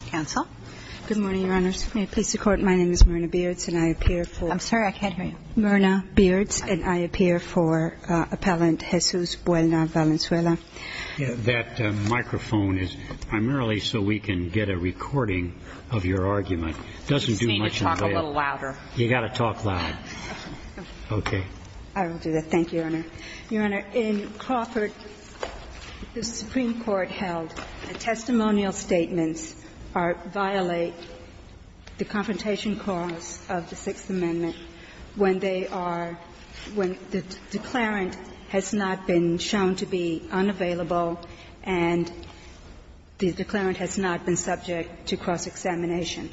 Council. Good morning, Your Honors. May it please the Court, my name is Myrna Beards, and I appear for I'm sorry, I can't hear you. Myrna Beards, and I appear for Appellant Jesus Buelna-Valenzuela. That microphone is primarily so we can get a recording of your argument. It doesn't do much in the way of You just need to talk a little louder. You got to talk loud. Okay. I will do that. Thank you, Your Honor. Your Honor, in Crawford, the Supreme Court held that testimonial statements violate the confrontation clause of the Sixth Amendment when they are, when the declarant has not been shown to be unavailable and the declarant has not been subject to cross-examination.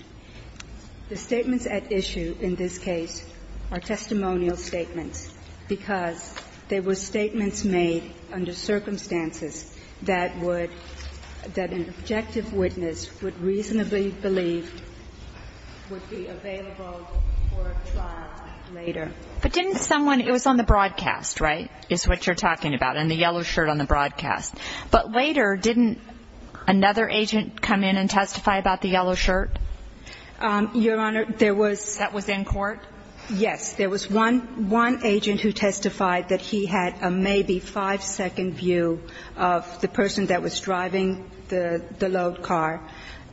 The statements at issue in this case are testimonial statements, because there were statements made under circumstances that would, that an objective witness would reasonably believe would be available for trial later. But didn't someone, it was on the broadcast, right, is what you're talking about, and the yellow shirt on the broadcast. But later, didn't another agent come in and testify about the yellow shirt? Your Honor, there was That was in court? Yes. There was one agent who testified that he had a maybe five-second view of the person that was driving the load car,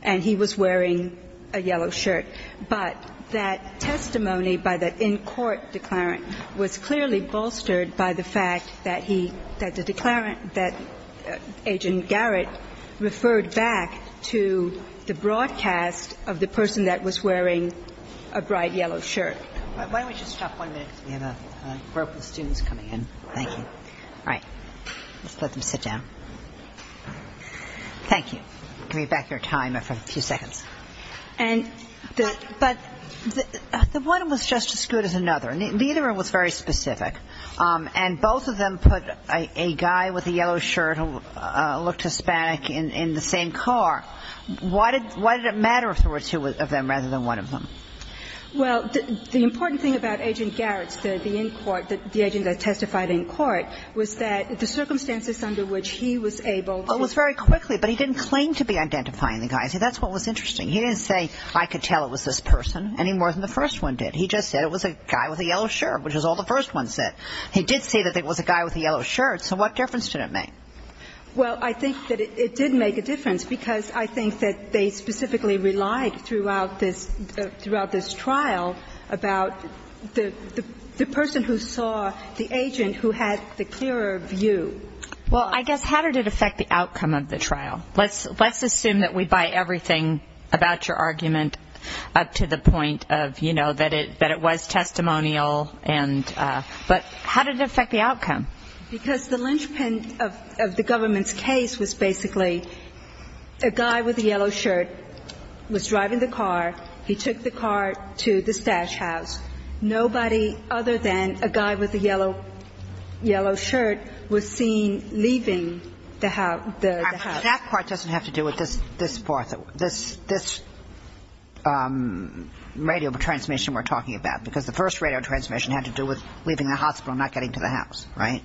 and he was wearing a yellow shirt. But that testimony by the in-court declarant was clearly bolstered by the fact that he, that the declarant, that Agent Garrett referred back to the broadcast of the person that was wearing a bright yellow shirt. Why don't we just stop one minute, because we have a group of students coming in. Thank you. All right. Let's let them sit down. Thank you. Give me back your time for a few seconds. The one was just as good as another. Neither one was very specific. And both of them put a guy with a yellow shirt who looked Hispanic in the same car. Why did it matter if there were two of them rather than one of them? Well, the important thing about Agent Garrett's, the in-court, the agent that testified in court, was that the circumstances under which he was able to It was very quickly, but he didn't claim to be identifying the guy. He didn't say, I could tell it was this person, any more than the first one did. He just said it was a guy with a yellow shirt, which is all the first one said. He did say that it was a guy with a yellow shirt. So what difference did it make? Well, I think that it did make a difference, because I think that they specifically relied throughout this trial about the person who saw the agent who had the clearer view. Well, I guess how did it affect the outcome of the trial? Let's assume that we buy everything about your argument up to the point of, you know, that it was testimonial. But how did it affect the outcome? Because the linchpin of the government's case was basically a guy with a yellow shirt was driving the car. He took the car to the stash house. Nobody other than a guy with a yellow shirt was seen leaving the house. That part doesn't have to do with this part, this radio transmission we're talking about, because the first radio transmission had to do with leaving the hospital and not getting to the house, right?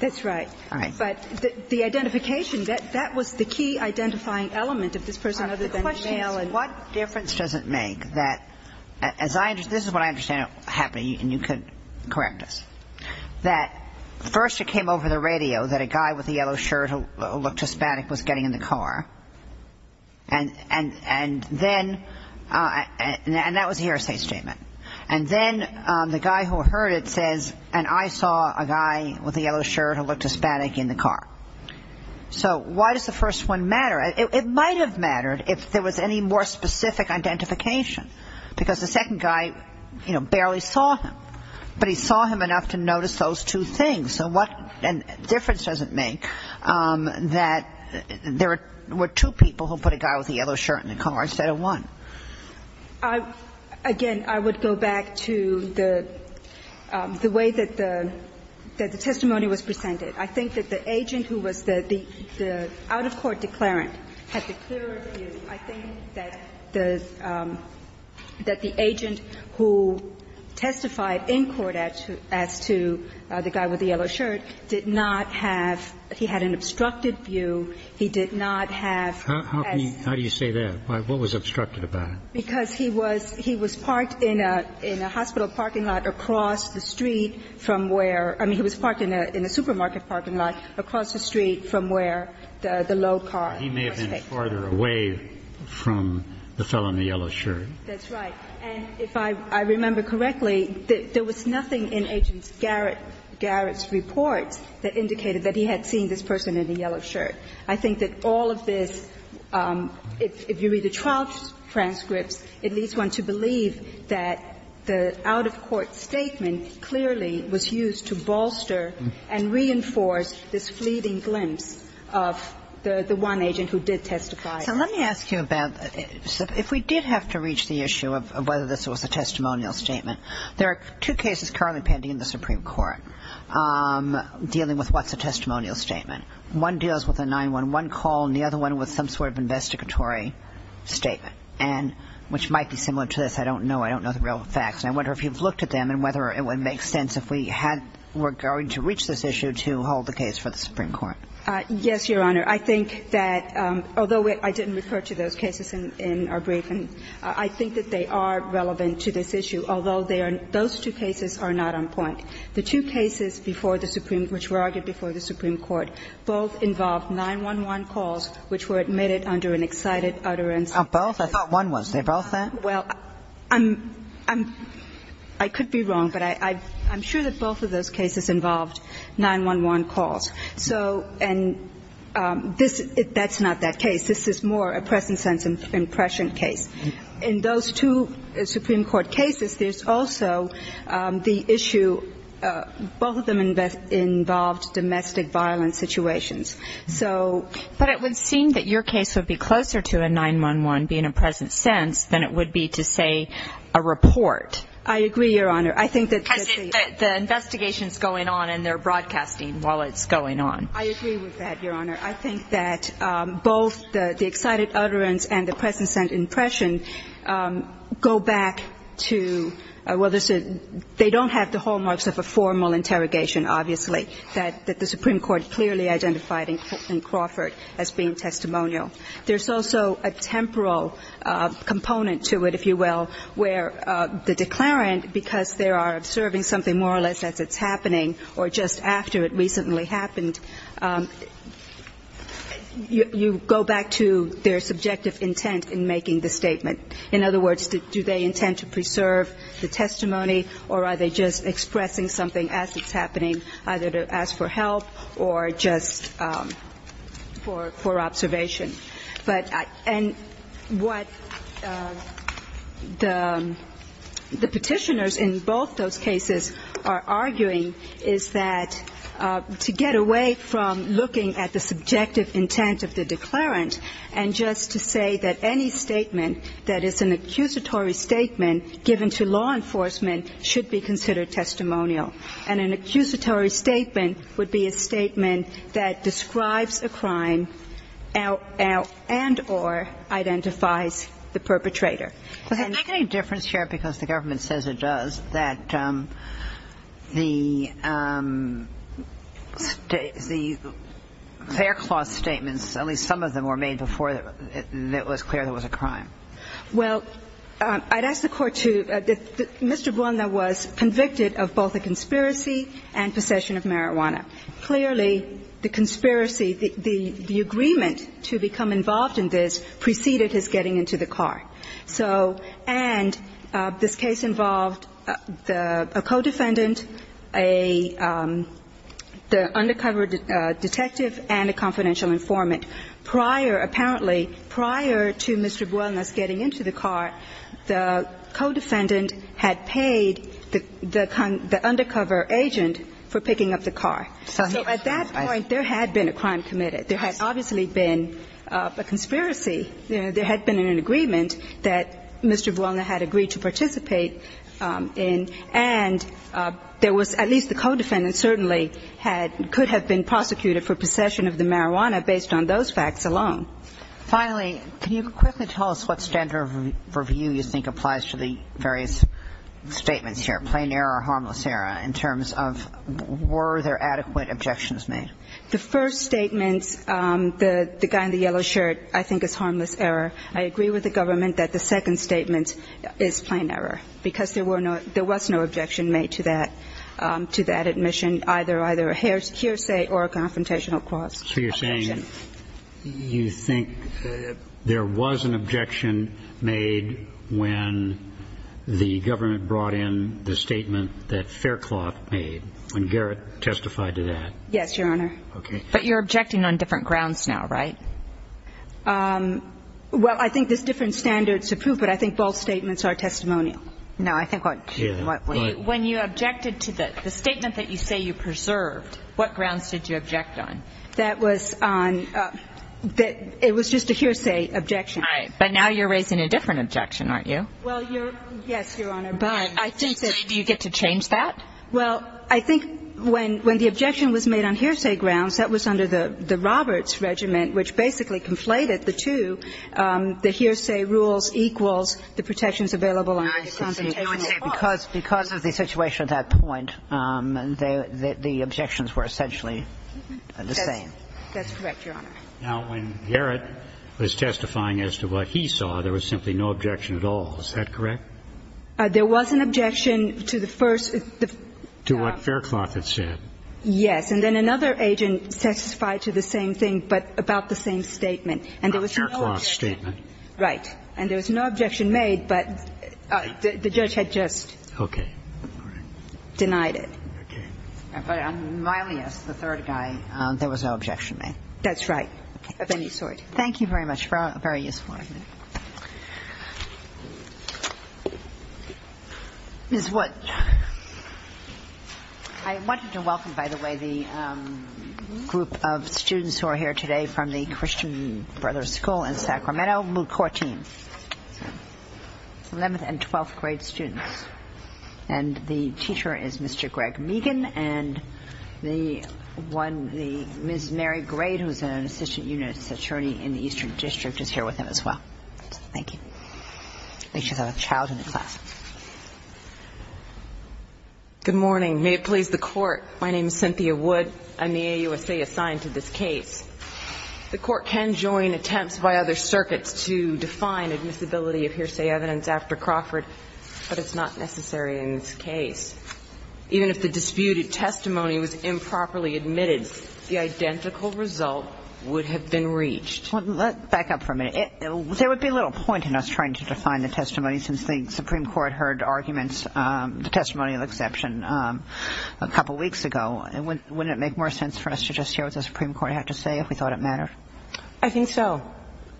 That's right. All right. But the identification, that was the key identifying element of this person other than the male. The question is, what difference does it make that, as I understand, this is what I understand happening, and you can correct us, that first it came over the radio that a guy with a yellow shirt who looked Hispanic was getting in the car. And then, and that was the hearsay statement. And then the guy who heard it says, and I saw a guy with a yellow shirt who looked Hispanic in the car. So why does the first one matter? It might have mattered if there was any more specific identification, because the second guy, you know, barely saw him. But he saw him enough to notice those two things. So what difference does it make that there were two people who put a guy with a yellow shirt in the car instead of one? Again, I would go back to the way that the testimony was presented. I think that the agent who was the out-of-court declarant had the clearer view. I think that the agent who testified in court as to the guy with the yellow shirt did not have – he had an obstructed view. He did not have – How can you – how do you say that? What was obstructed about it? Because he was – he was parked in a hospital parking lot across the street from where – I mean, he was parked in a supermarket parking lot across the street from where the low car was parked. He may have been farther away from the fellow in the yellow shirt. That's right. And if I remember correctly, there was nothing in Agent Garrett's reports that indicated that he had seen this person in a yellow shirt. I think that all of this, if you read the trial transcripts, it leads one to believe that the out-of-court statement clearly was used to bolster and reinforce this fleeting glimpse of the one agent who did testify. So let me ask you about – if we did have to reach the issue of whether this was a testimonial statement, there are two cases currently pending in the Supreme Court dealing with what's a testimonial statement. One deals with a 911 call and the other one with some sort of investigatory statement, which might be similar to this. I don't know. I don't know the real facts. And I wonder if you've looked at them and whether it would make sense if we had – were going to reach this issue to hold the case for the Supreme Court. Yes, Your Honor. I think that although I didn't refer to those cases in our briefing, I think that they are relevant to this issue, although they are – those two cases are not on point. The two cases before the Supreme – which were argued before the Supreme Court both involved 911 calls which were admitted under an excited utterance. Both? I thought one was. Was they both that? Well, I'm – I could be wrong, but I'm sure that both of those cases involved 911 calls. So – and this – that's not that case. This is more a present sense impression case. In those two Supreme Court cases, there's also the issue – both of them involved domestic violence situations. But it would seem that your case would be closer to a 911 being a present sense than it would be to, say, a report. I agree, Your Honor. I think that the – Because the investigation is going on and they're broadcasting while it's going on. I agree with that, Your Honor. I think that both the excited utterance and the present sense impression go back to – well, they don't have the hallmarks of a formal interrogation, obviously, that the Supreme Court clearly identified in Crawford as being testimonial. There's also a temporal component to it, if you will, where the declarant, because they are observing something more or less as it's happening or just after it recently happened, you go back to their subjective intent in making the statement. In other words, do they intend to preserve the testimony or are they just expressing something as it's happening, either to ask for help or just for observation? But – and what the Petitioners in both those cases are arguing is that to get away from looking at the subjective intent of the declarant and just to say that any statement that is an accusatory statement given to law enforcement should be considered testimonial. And an accusatory statement would be a statement that describes a crime and or identifies the perpetrator. Does it make any difference, Your Honor, because the government says it does, that the fair clause statements, at least some of them were made before it was clear there was a crime? Well, I'd ask the Court to – Mr. Buona was convicted of both a conspiracy and possession of marijuana. Clearly, the conspiracy, the agreement to become involved in this preceded his getting into the car. So – and this case involved a co-defendant, a – the undercover detective and a confidential informant. Prior – apparently, prior to Mr. Buona's getting into the car, the co-defendant had paid the undercover agent for picking up the car. So at that point, there had been a crime committed. There had obviously been a conspiracy. There had been an agreement that Mr. Buona had agreed to participate in, and there was – at least the co-defendant certainly had – could have been prosecuted for possession of the marijuana based on those facts alone. Finally, can you quickly tell us what standard of review you think applies to the various statements here, plain error or harmless error, in terms of were there adequate objections made? The first statement, the guy in the yellow shirt, I think is harmless error. I agree with the government that the second statement is plain error because there were no – there was no objection made to that – to that admission, either a hearsay or a confrontational cause. So you're saying you think there was an objection made when the government brought in the statement that Faircloth made, when Garrett testified to that? Yes, Your Honor. Okay. But you're objecting on different grounds now, right? Well, I think there's different standards to prove, but I think both statements are testimonial. No, I think what – what – When you objected to the statement that you say you preserved, what grounds did you object on? That was on – it was just a hearsay objection. All right. But now you're raising a different objection, aren't you? Well, you're – yes, Your Honor, but I think that – Do you get to change that? Well, I think when – when the objection was made on hearsay grounds, that was under the Roberts regimen, which basically conflated the two, the hearsay rules equals the protections available on the confrontational cause. Because of the situation at that point, the objections were essentially the same. That's correct, Your Honor. Now, when Garrett was testifying as to what he saw, there was simply no objection at all, is that correct? There was an objection to the first – To what Faircloth had said. Yes. And then another agent testified to the same thing, but about the same statement. And there was no objection. About Faircloth's statement. Right. And there was no objection made, but the judge had just denied it. Okay. But on Milius, the third guy, there was no objection made. That's right, of any sort. Thank you very much. Very useful argument. Ms. Wood. I wanted to welcome, by the way, the group of students who are here today from the Christian Brothers School in Sacramento, Mucortine, 11th and 12th grade students. And the teacher is Mr. Greg Meegan, and the one, Ms. Mary Grade, who is an assistant unit attorney in the Eastern District is here with him as well. Thank you. They should have a child in the class. Good morning. May it please the Court. My name is Cynthia Wood. I'm the AUSA assigned to this case. The Court can join attempts by other circuits to define admissibility of hearsay evidence after Crawford, but it's not necessary in this case. Even if the disputed testimony was improperly admitted, the identical result would have been reached. Let's back up for a minute. There would be little point in us trying to define the testimony since the Supreme Court heard arguments, the testimony of exception, a couple weeks ago. Wouldn't it make more sense for us to just hear what the Supreme Court had to say if we thought it mattered? I think so.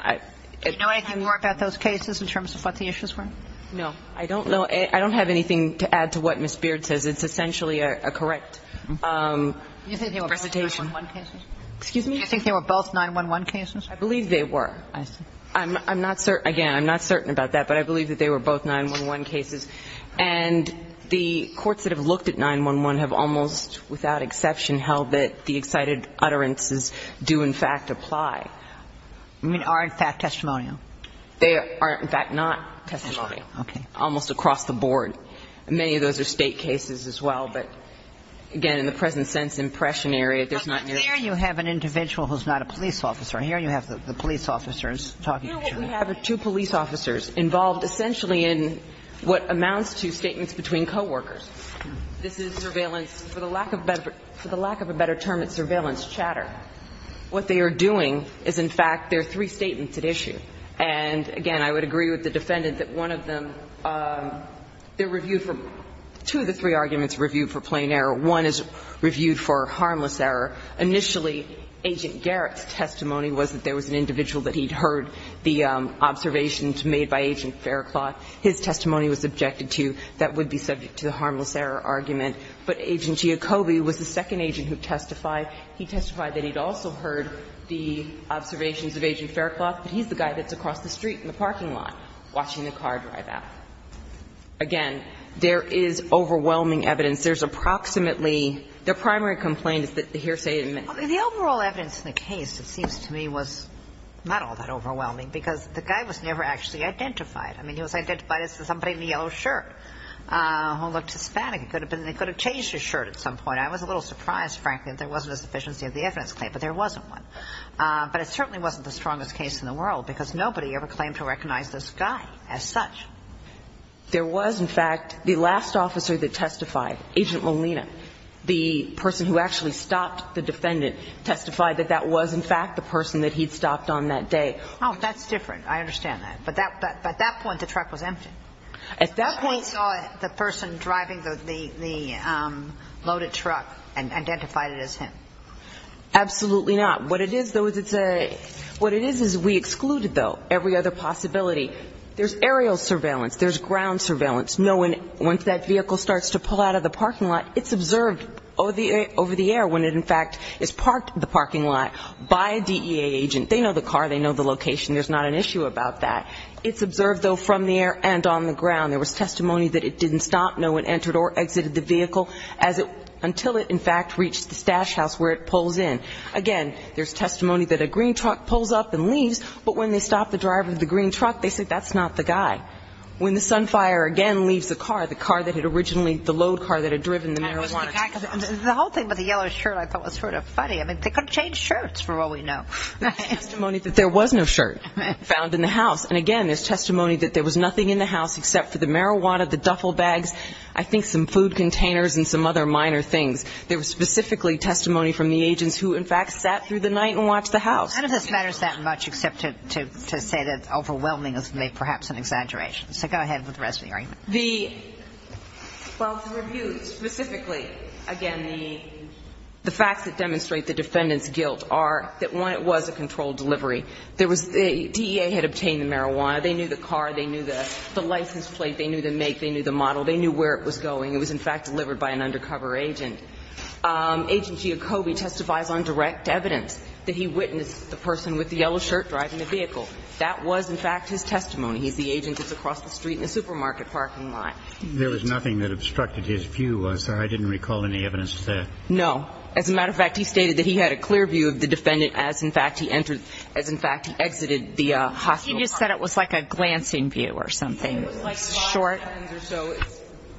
Do you know anything more about those cases in terms of what the issues were? No. I don't know. I don't have anything to add to what Ms. Beard says. It's essentially a correct presentation. Do you think they were both nine-one cases? Excuse me? Do you think they were both nine-one-one cases? I believe they were. I see. I'm not certain. Again, I'm not certain about that, but I believe that they were both nine-one-one cases. And the courts that have looked at nine-one-one have almost without exception held that the excited utterances do in fact apply. I mean, are in fact testimonial. They are in fact not testimonial. Okay. Almost across the board. area, there's not nearly as much. Here you have an individual who's not a police officer. Here you have the police officers talking to each other. We have two police officers involved essentially in what amounts to statements between coworkers. This is surveillance. For the lack of a better term, it's surveillance chatter. What they are doing is in fact there are three statements at issue. And, again, I would agree with the defendant that one of them, they're reviewed for two of the three arguments reviewed for plain error. One is reviewed for harmless error. Initially, Agent Garrett's testimony was that there was an individual that he'd heard the observations made by Agent Faircloth. His testimony was subjected to that would be subject to the harmless error argument. But Agent Giacobbe was the second agent who testified. He testified that he'd also heard the observations of Agent Faircloth, but he's the guy that's across the street in the parking lot watching the car drive out. Again, there is overwhelming evidence. There's approximately the primary complaint is that the hearsay didn't make it. The overall evidence in the case, it seems to me, was not all that overwhelming because the guy was never actually identified. I mean, he was identified as somebody in a yellow shirt who looked Hispanic. It could have been that they could have changed his shirt at some point. I was a little surprised, frankly, that there wasn't a sufficiency of the evidence claim, but there wasn't one. But it certainly wasn't the strongest case in the world because nobody ever claimed to recognize this guy as such. There was, in fact, the last officer that testified, Agent Molina, the person who actually stopped the defendant, testified that that was, in fact, the person that he'd stopped on that day. Oh, that's different. I understand that. But at that point, the truck was empty. At that point we saw the person driving the loaded truck and identified it as him. Absolutely not. What it is, though, is it's a – what it is is we excluded, though, every other possibility. There's aerial surveillance. There's ground surveillance. No one – once that vehicle starts to pull out of the parking lot, it's observed over the air when it, in fact, is parked in the parking lot by a DEA agent. They know the car. They know the location. There's not an issue about that. It's observed, though, from the air and on the ground. There was testimony that it didn't stop, no one entered or exited the vehicle until it, in fact, reached the stash house where it pulls in. Again, there's testimony that a green truck pulls up and leaves, but when they stop the driver of the green truck, they say that's not the guy. When the Sunfire, again, leaves the car, the car that had originally – the load car that had driven the marijuana truck. The whole thing about the yellow shirt I thought was sort of funny. I mean, they could have changed shirts, for all we know. There's testimony that there was no shirt found in the house. And, again, there's testimony that there was nothing in the house except for the marijuana, the duffel bags, I think some food containers and some other minor things. There was specifically testimony from the agents who, in fact, sat through the night and watched the house. And none of this matters that much except to say that overwhelming is perhaps an exaggeration. So go ahead with the rest of the argument. The – well, the review specifically, again, the facts that demonstrate the defendant's guilt are that, one, it was a controlled delivery. There was – the DEA had obtained the marijuana. They knew the car. They knew the license plate. They knew the make. They knew the model. They knew where it was going. It was, in fact, delivered by an undercover agent. Agent Giacobbe testifies on direct evidence that he witnessed the person with the yellow shirt driving the vehicle. That was, in fact, his testimony. He's the agent that's across the street in the supermarket parking lot. There was nothing that obstructed his view, was there? I didn't recall any evidence of that. No. As a matter of fact, he stated that he had a clear view of the defendant as, in fact, he entered – as, in fact, he exited the hospital car. He just said it was like a glancing view or something. It was like five seconds or so.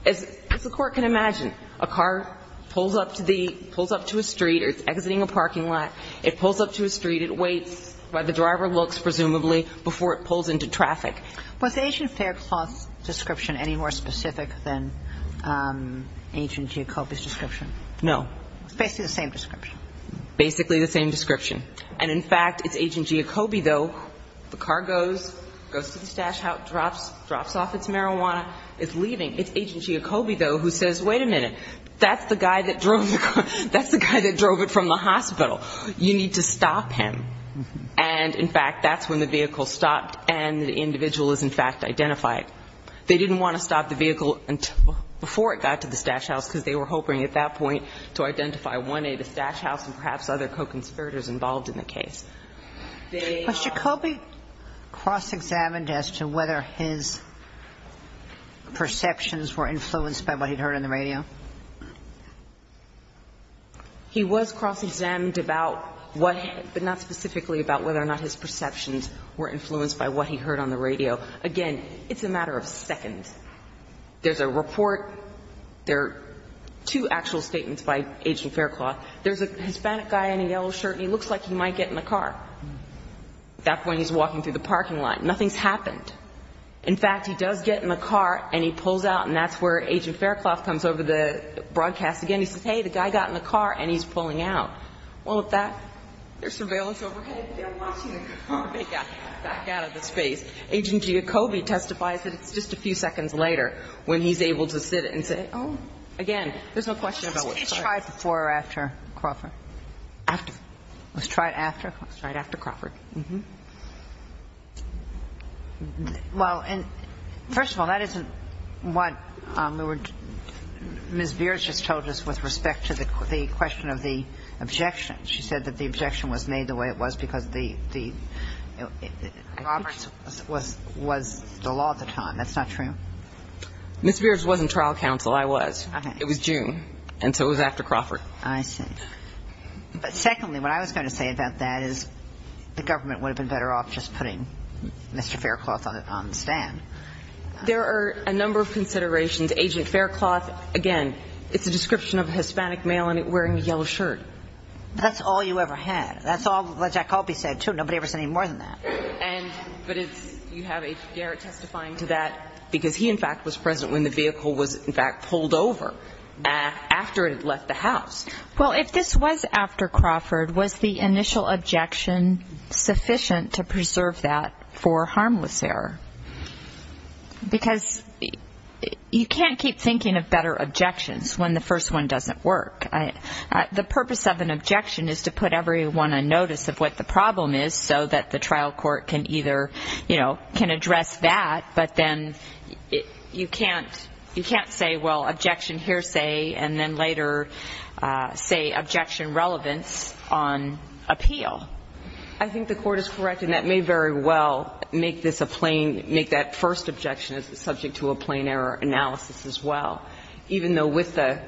As the court can imagine, a car pulls up to the – pulls up to a street or it's exiting a parking lot. It pulls up to a street. It waits while the driver looks, presumably, before it pulls into traffic. Was the agent Faircloth's description any more specific than Agent Giacobbe's description? No. Basically the same description. Basically the same description. And, in fact, it's Agent Giacobbe, though. The car goes, goes to the stash house, drops off its marijuana, is leaving. It's Agent Giacobbe, though, who says, wait a minute. That's the guy that drove the car. That's the guy that drove it from the hospital. You need to stop him. And, in fact, that's when the vehicle stopped and the individual is, in fact, identified. They didn't want to stop the vehicle before it got to the stash house because they were hoping at that point to identify 1A, the stash house, and perhaps other co-conspirators involved in the case. Was Giacobbe cross-examined as to whether his perceptions were influenced by what he'd heard on the radio? He was cross-examined about what, but not specifically about whether or not his perceptions were influenced by what he heard on the radio. Again, it's a matter of seconds. There's a report. There are two actual statements by Agent Faircloth. There's a Hispanic guy in a yellow shirt. He looks like he might get in the car. At that point, he's walking through the parking lot. Nothing's happened. In fact, he does get in the car, and he pulls out, and that's where Agent Faircloth comes over the broadcast again. He says, hey, the guy got in the car, and he's pulling out. Well, at that, there's surveillance overhead. They're watching the guy back out of the space. Agent Giacobbe testifies that it's just a few seconds later when he's able to sit and say, oh, again, there's no question about what's going on. Okay. Rieger? I was going to follow up with Mr. Property. He was tried before or after Crawford? After. He was tried after? He was tried after Crawford. Well, first of all, that isn't what Ms. Biers just told us with respect to the question of the objection. She said that the objection was made the way it was because Roberts was the law at the time. That's not true? Ms. Biers wasn't trial counsel. I was. It was June, and so it was after Crawford. I see. But secondly, what I was going to say about that is the government would have been better off just putting Mr. Faircloth on the stand. There are a number of considerations. Agent Faircloth, again, it's a description of a Hispanic male wearing a yellow shirt. That's all you ever had. That's all Jack Colby said, too. Nobody ever said any more than that. But you have Garrett testifying to that because he, in fact, was present when the vehicle was, in fact, pulled over after it had left the house. Well, if this was after Crawford, was the initial objection sufficient to preserve that for harmless error? Because you can't keep thinking of better objections when the first one doesn't work. The purpose of an objection is to put everyone on notice of what the problem is so that the trial court can either, you know, can address that, but then you can't say, well, objection here, say, and then later say objection relevance on appeal. I think the Court is correct, and that may very well make that first objection subject to a plain error analysis as well, even though with the,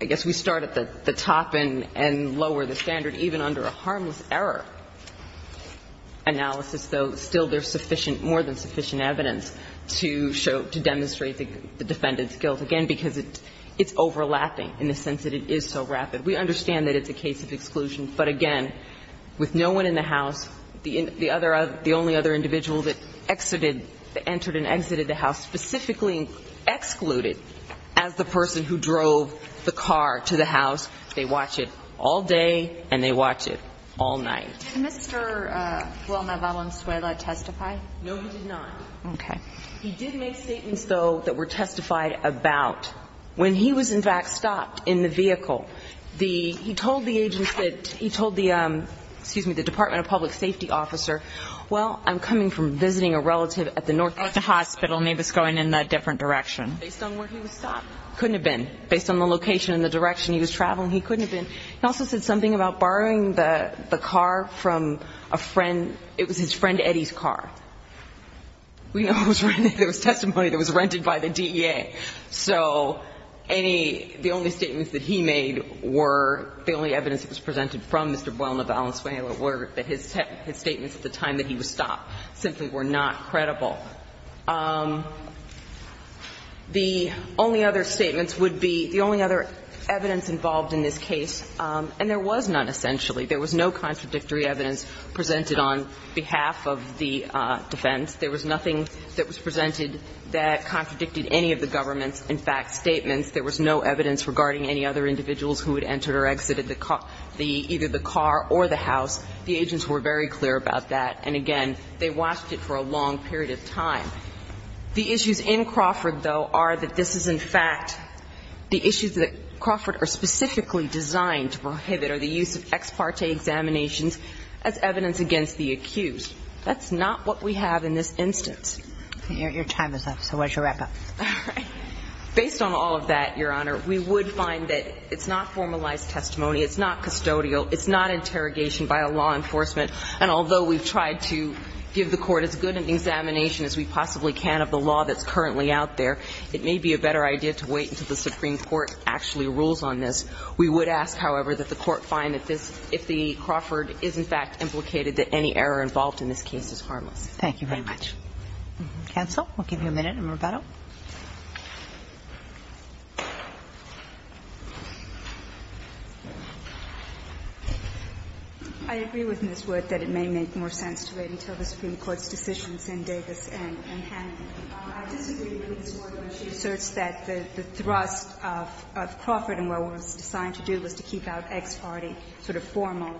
I guess we start at the top and lower the standard, even under a harmless error analysis, though, still there's sufficient, more than sufficient evidence to show, to demonstrate the defendant's guilt, again, because it's overlapping in the sense that it is so rapid. We understand that it's a case of exclusion, but again, with no one in the house, the other, the only other individual that exited, entered and exited the house specifically excluded as the person who drove the car to the house. They watch it all day and they watch it all night. Did Mr. Wilma Valenzuela testify? No, he did not. Okay. He did make statements, though, that were testified about. When he was, in fact, stopped in the vehicle, the, he told the agents that, he told the, excuse me, the Department of Public Safety officer, well, I'm coming from visiting a relative at the North Hospital, and they have us going in that different direction. Based on where he was stopped? Couldn't have been. Based on the location and the direction he was traveling, he couldn't have been. He also said something about borrowing the car from a friend. It was his friend Eddie's car. We know there was testimony that was rented by the DEA. So any, the only statements that he made were, the only evidence that was presented from Mr. Wilma Valenzuela were that his statements at the time that he was stopped simply were not credible. The only other statements would be, the only other evidence involved in this case and there was none, essentially. There was no contradictory evidence presented on behalf of the defense. There was nothing that was presented that contradicted any of the government's, in fact, statements. There was no evidence regarding any other individuals who had entered or exited the car, the, either the car or the house. The agents were very clear about that. And again, they watched it for a long period of time. The issues in Crawford, though, are that this is, in fact, the issues that Crawford are specifically designed to prohibit are the use of ex parte examinations as evidence against the accused. That's not what we have in this instance. Your time is up. So why don't you wrap up? All right. Based on all of that, Your Honor, we would find that it's not formalized testimony, it's not custodial, it's not interrogation by a law enforcement, and although we've tried to give the court as good an examination as we possibly can of the law that's currently out there, it may be a better idea to wait until the Supreme Court actually rules on this. We would ask, however, that the court find that this, if the Crawford is, in fact, implicated, that any error involved in this case is harmless. Thank you very much. Cancel. We'll give you a minute in rebuttal. I agree with Ms. Wood that it may make more sense to wait until the Supreme Court's decisions in Davis and Hannon. I disagree with Ms. Wood when she asserts that the thrust of Crawford and what it was designed to do was to keep out ex parte sort of formal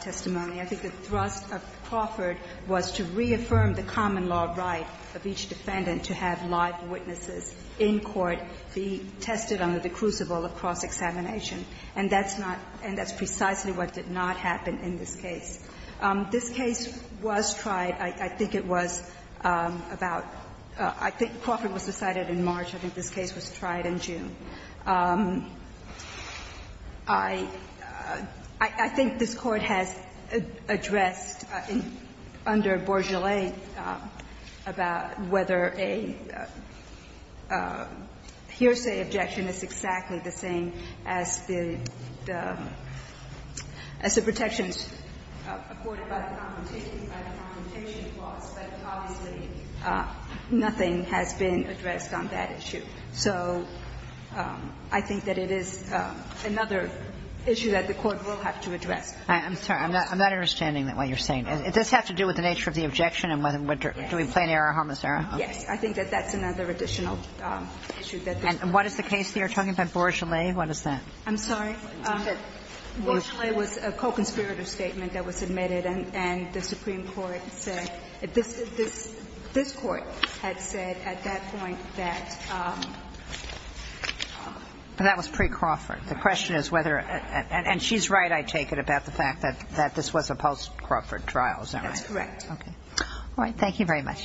testimony. I think the thrust of Crawford was to reaffirm the common law right of each defendant to have live witnesses in court be tested under the crucible of cross-examination. And that's not – and that's precisely what did not happen in this case. This case was tried, I think it was, about – I think Crawford was decided in March. I think this case was tried in June. I think this Court has addressed under Bourgeulet about whether a hearsay objection is exactly the same as the protections afforded by the confrontation, by the confrontation clause, but obviously nothing has been addressed on that issue. So I think that it is another issue that the Court will have to address. I'm sorry. I'm not understanding what you're saying. It does have to do with the nature of the objection and whether – do we play an error homicidal? Yes. I think that that's another additional issue. And what is the case that you're talking about, Bourgeulet? What is that? I'm sorry. Bourgeulet was a co-conspirator statement that was admitted and the Supreme Court had said – this Court had said at that point that – But that was pre-Crawford. The question is whether – and she's right, I take it, about the fact that this was a post-Crawford trial, isn't it? That's correct. Okay. All right.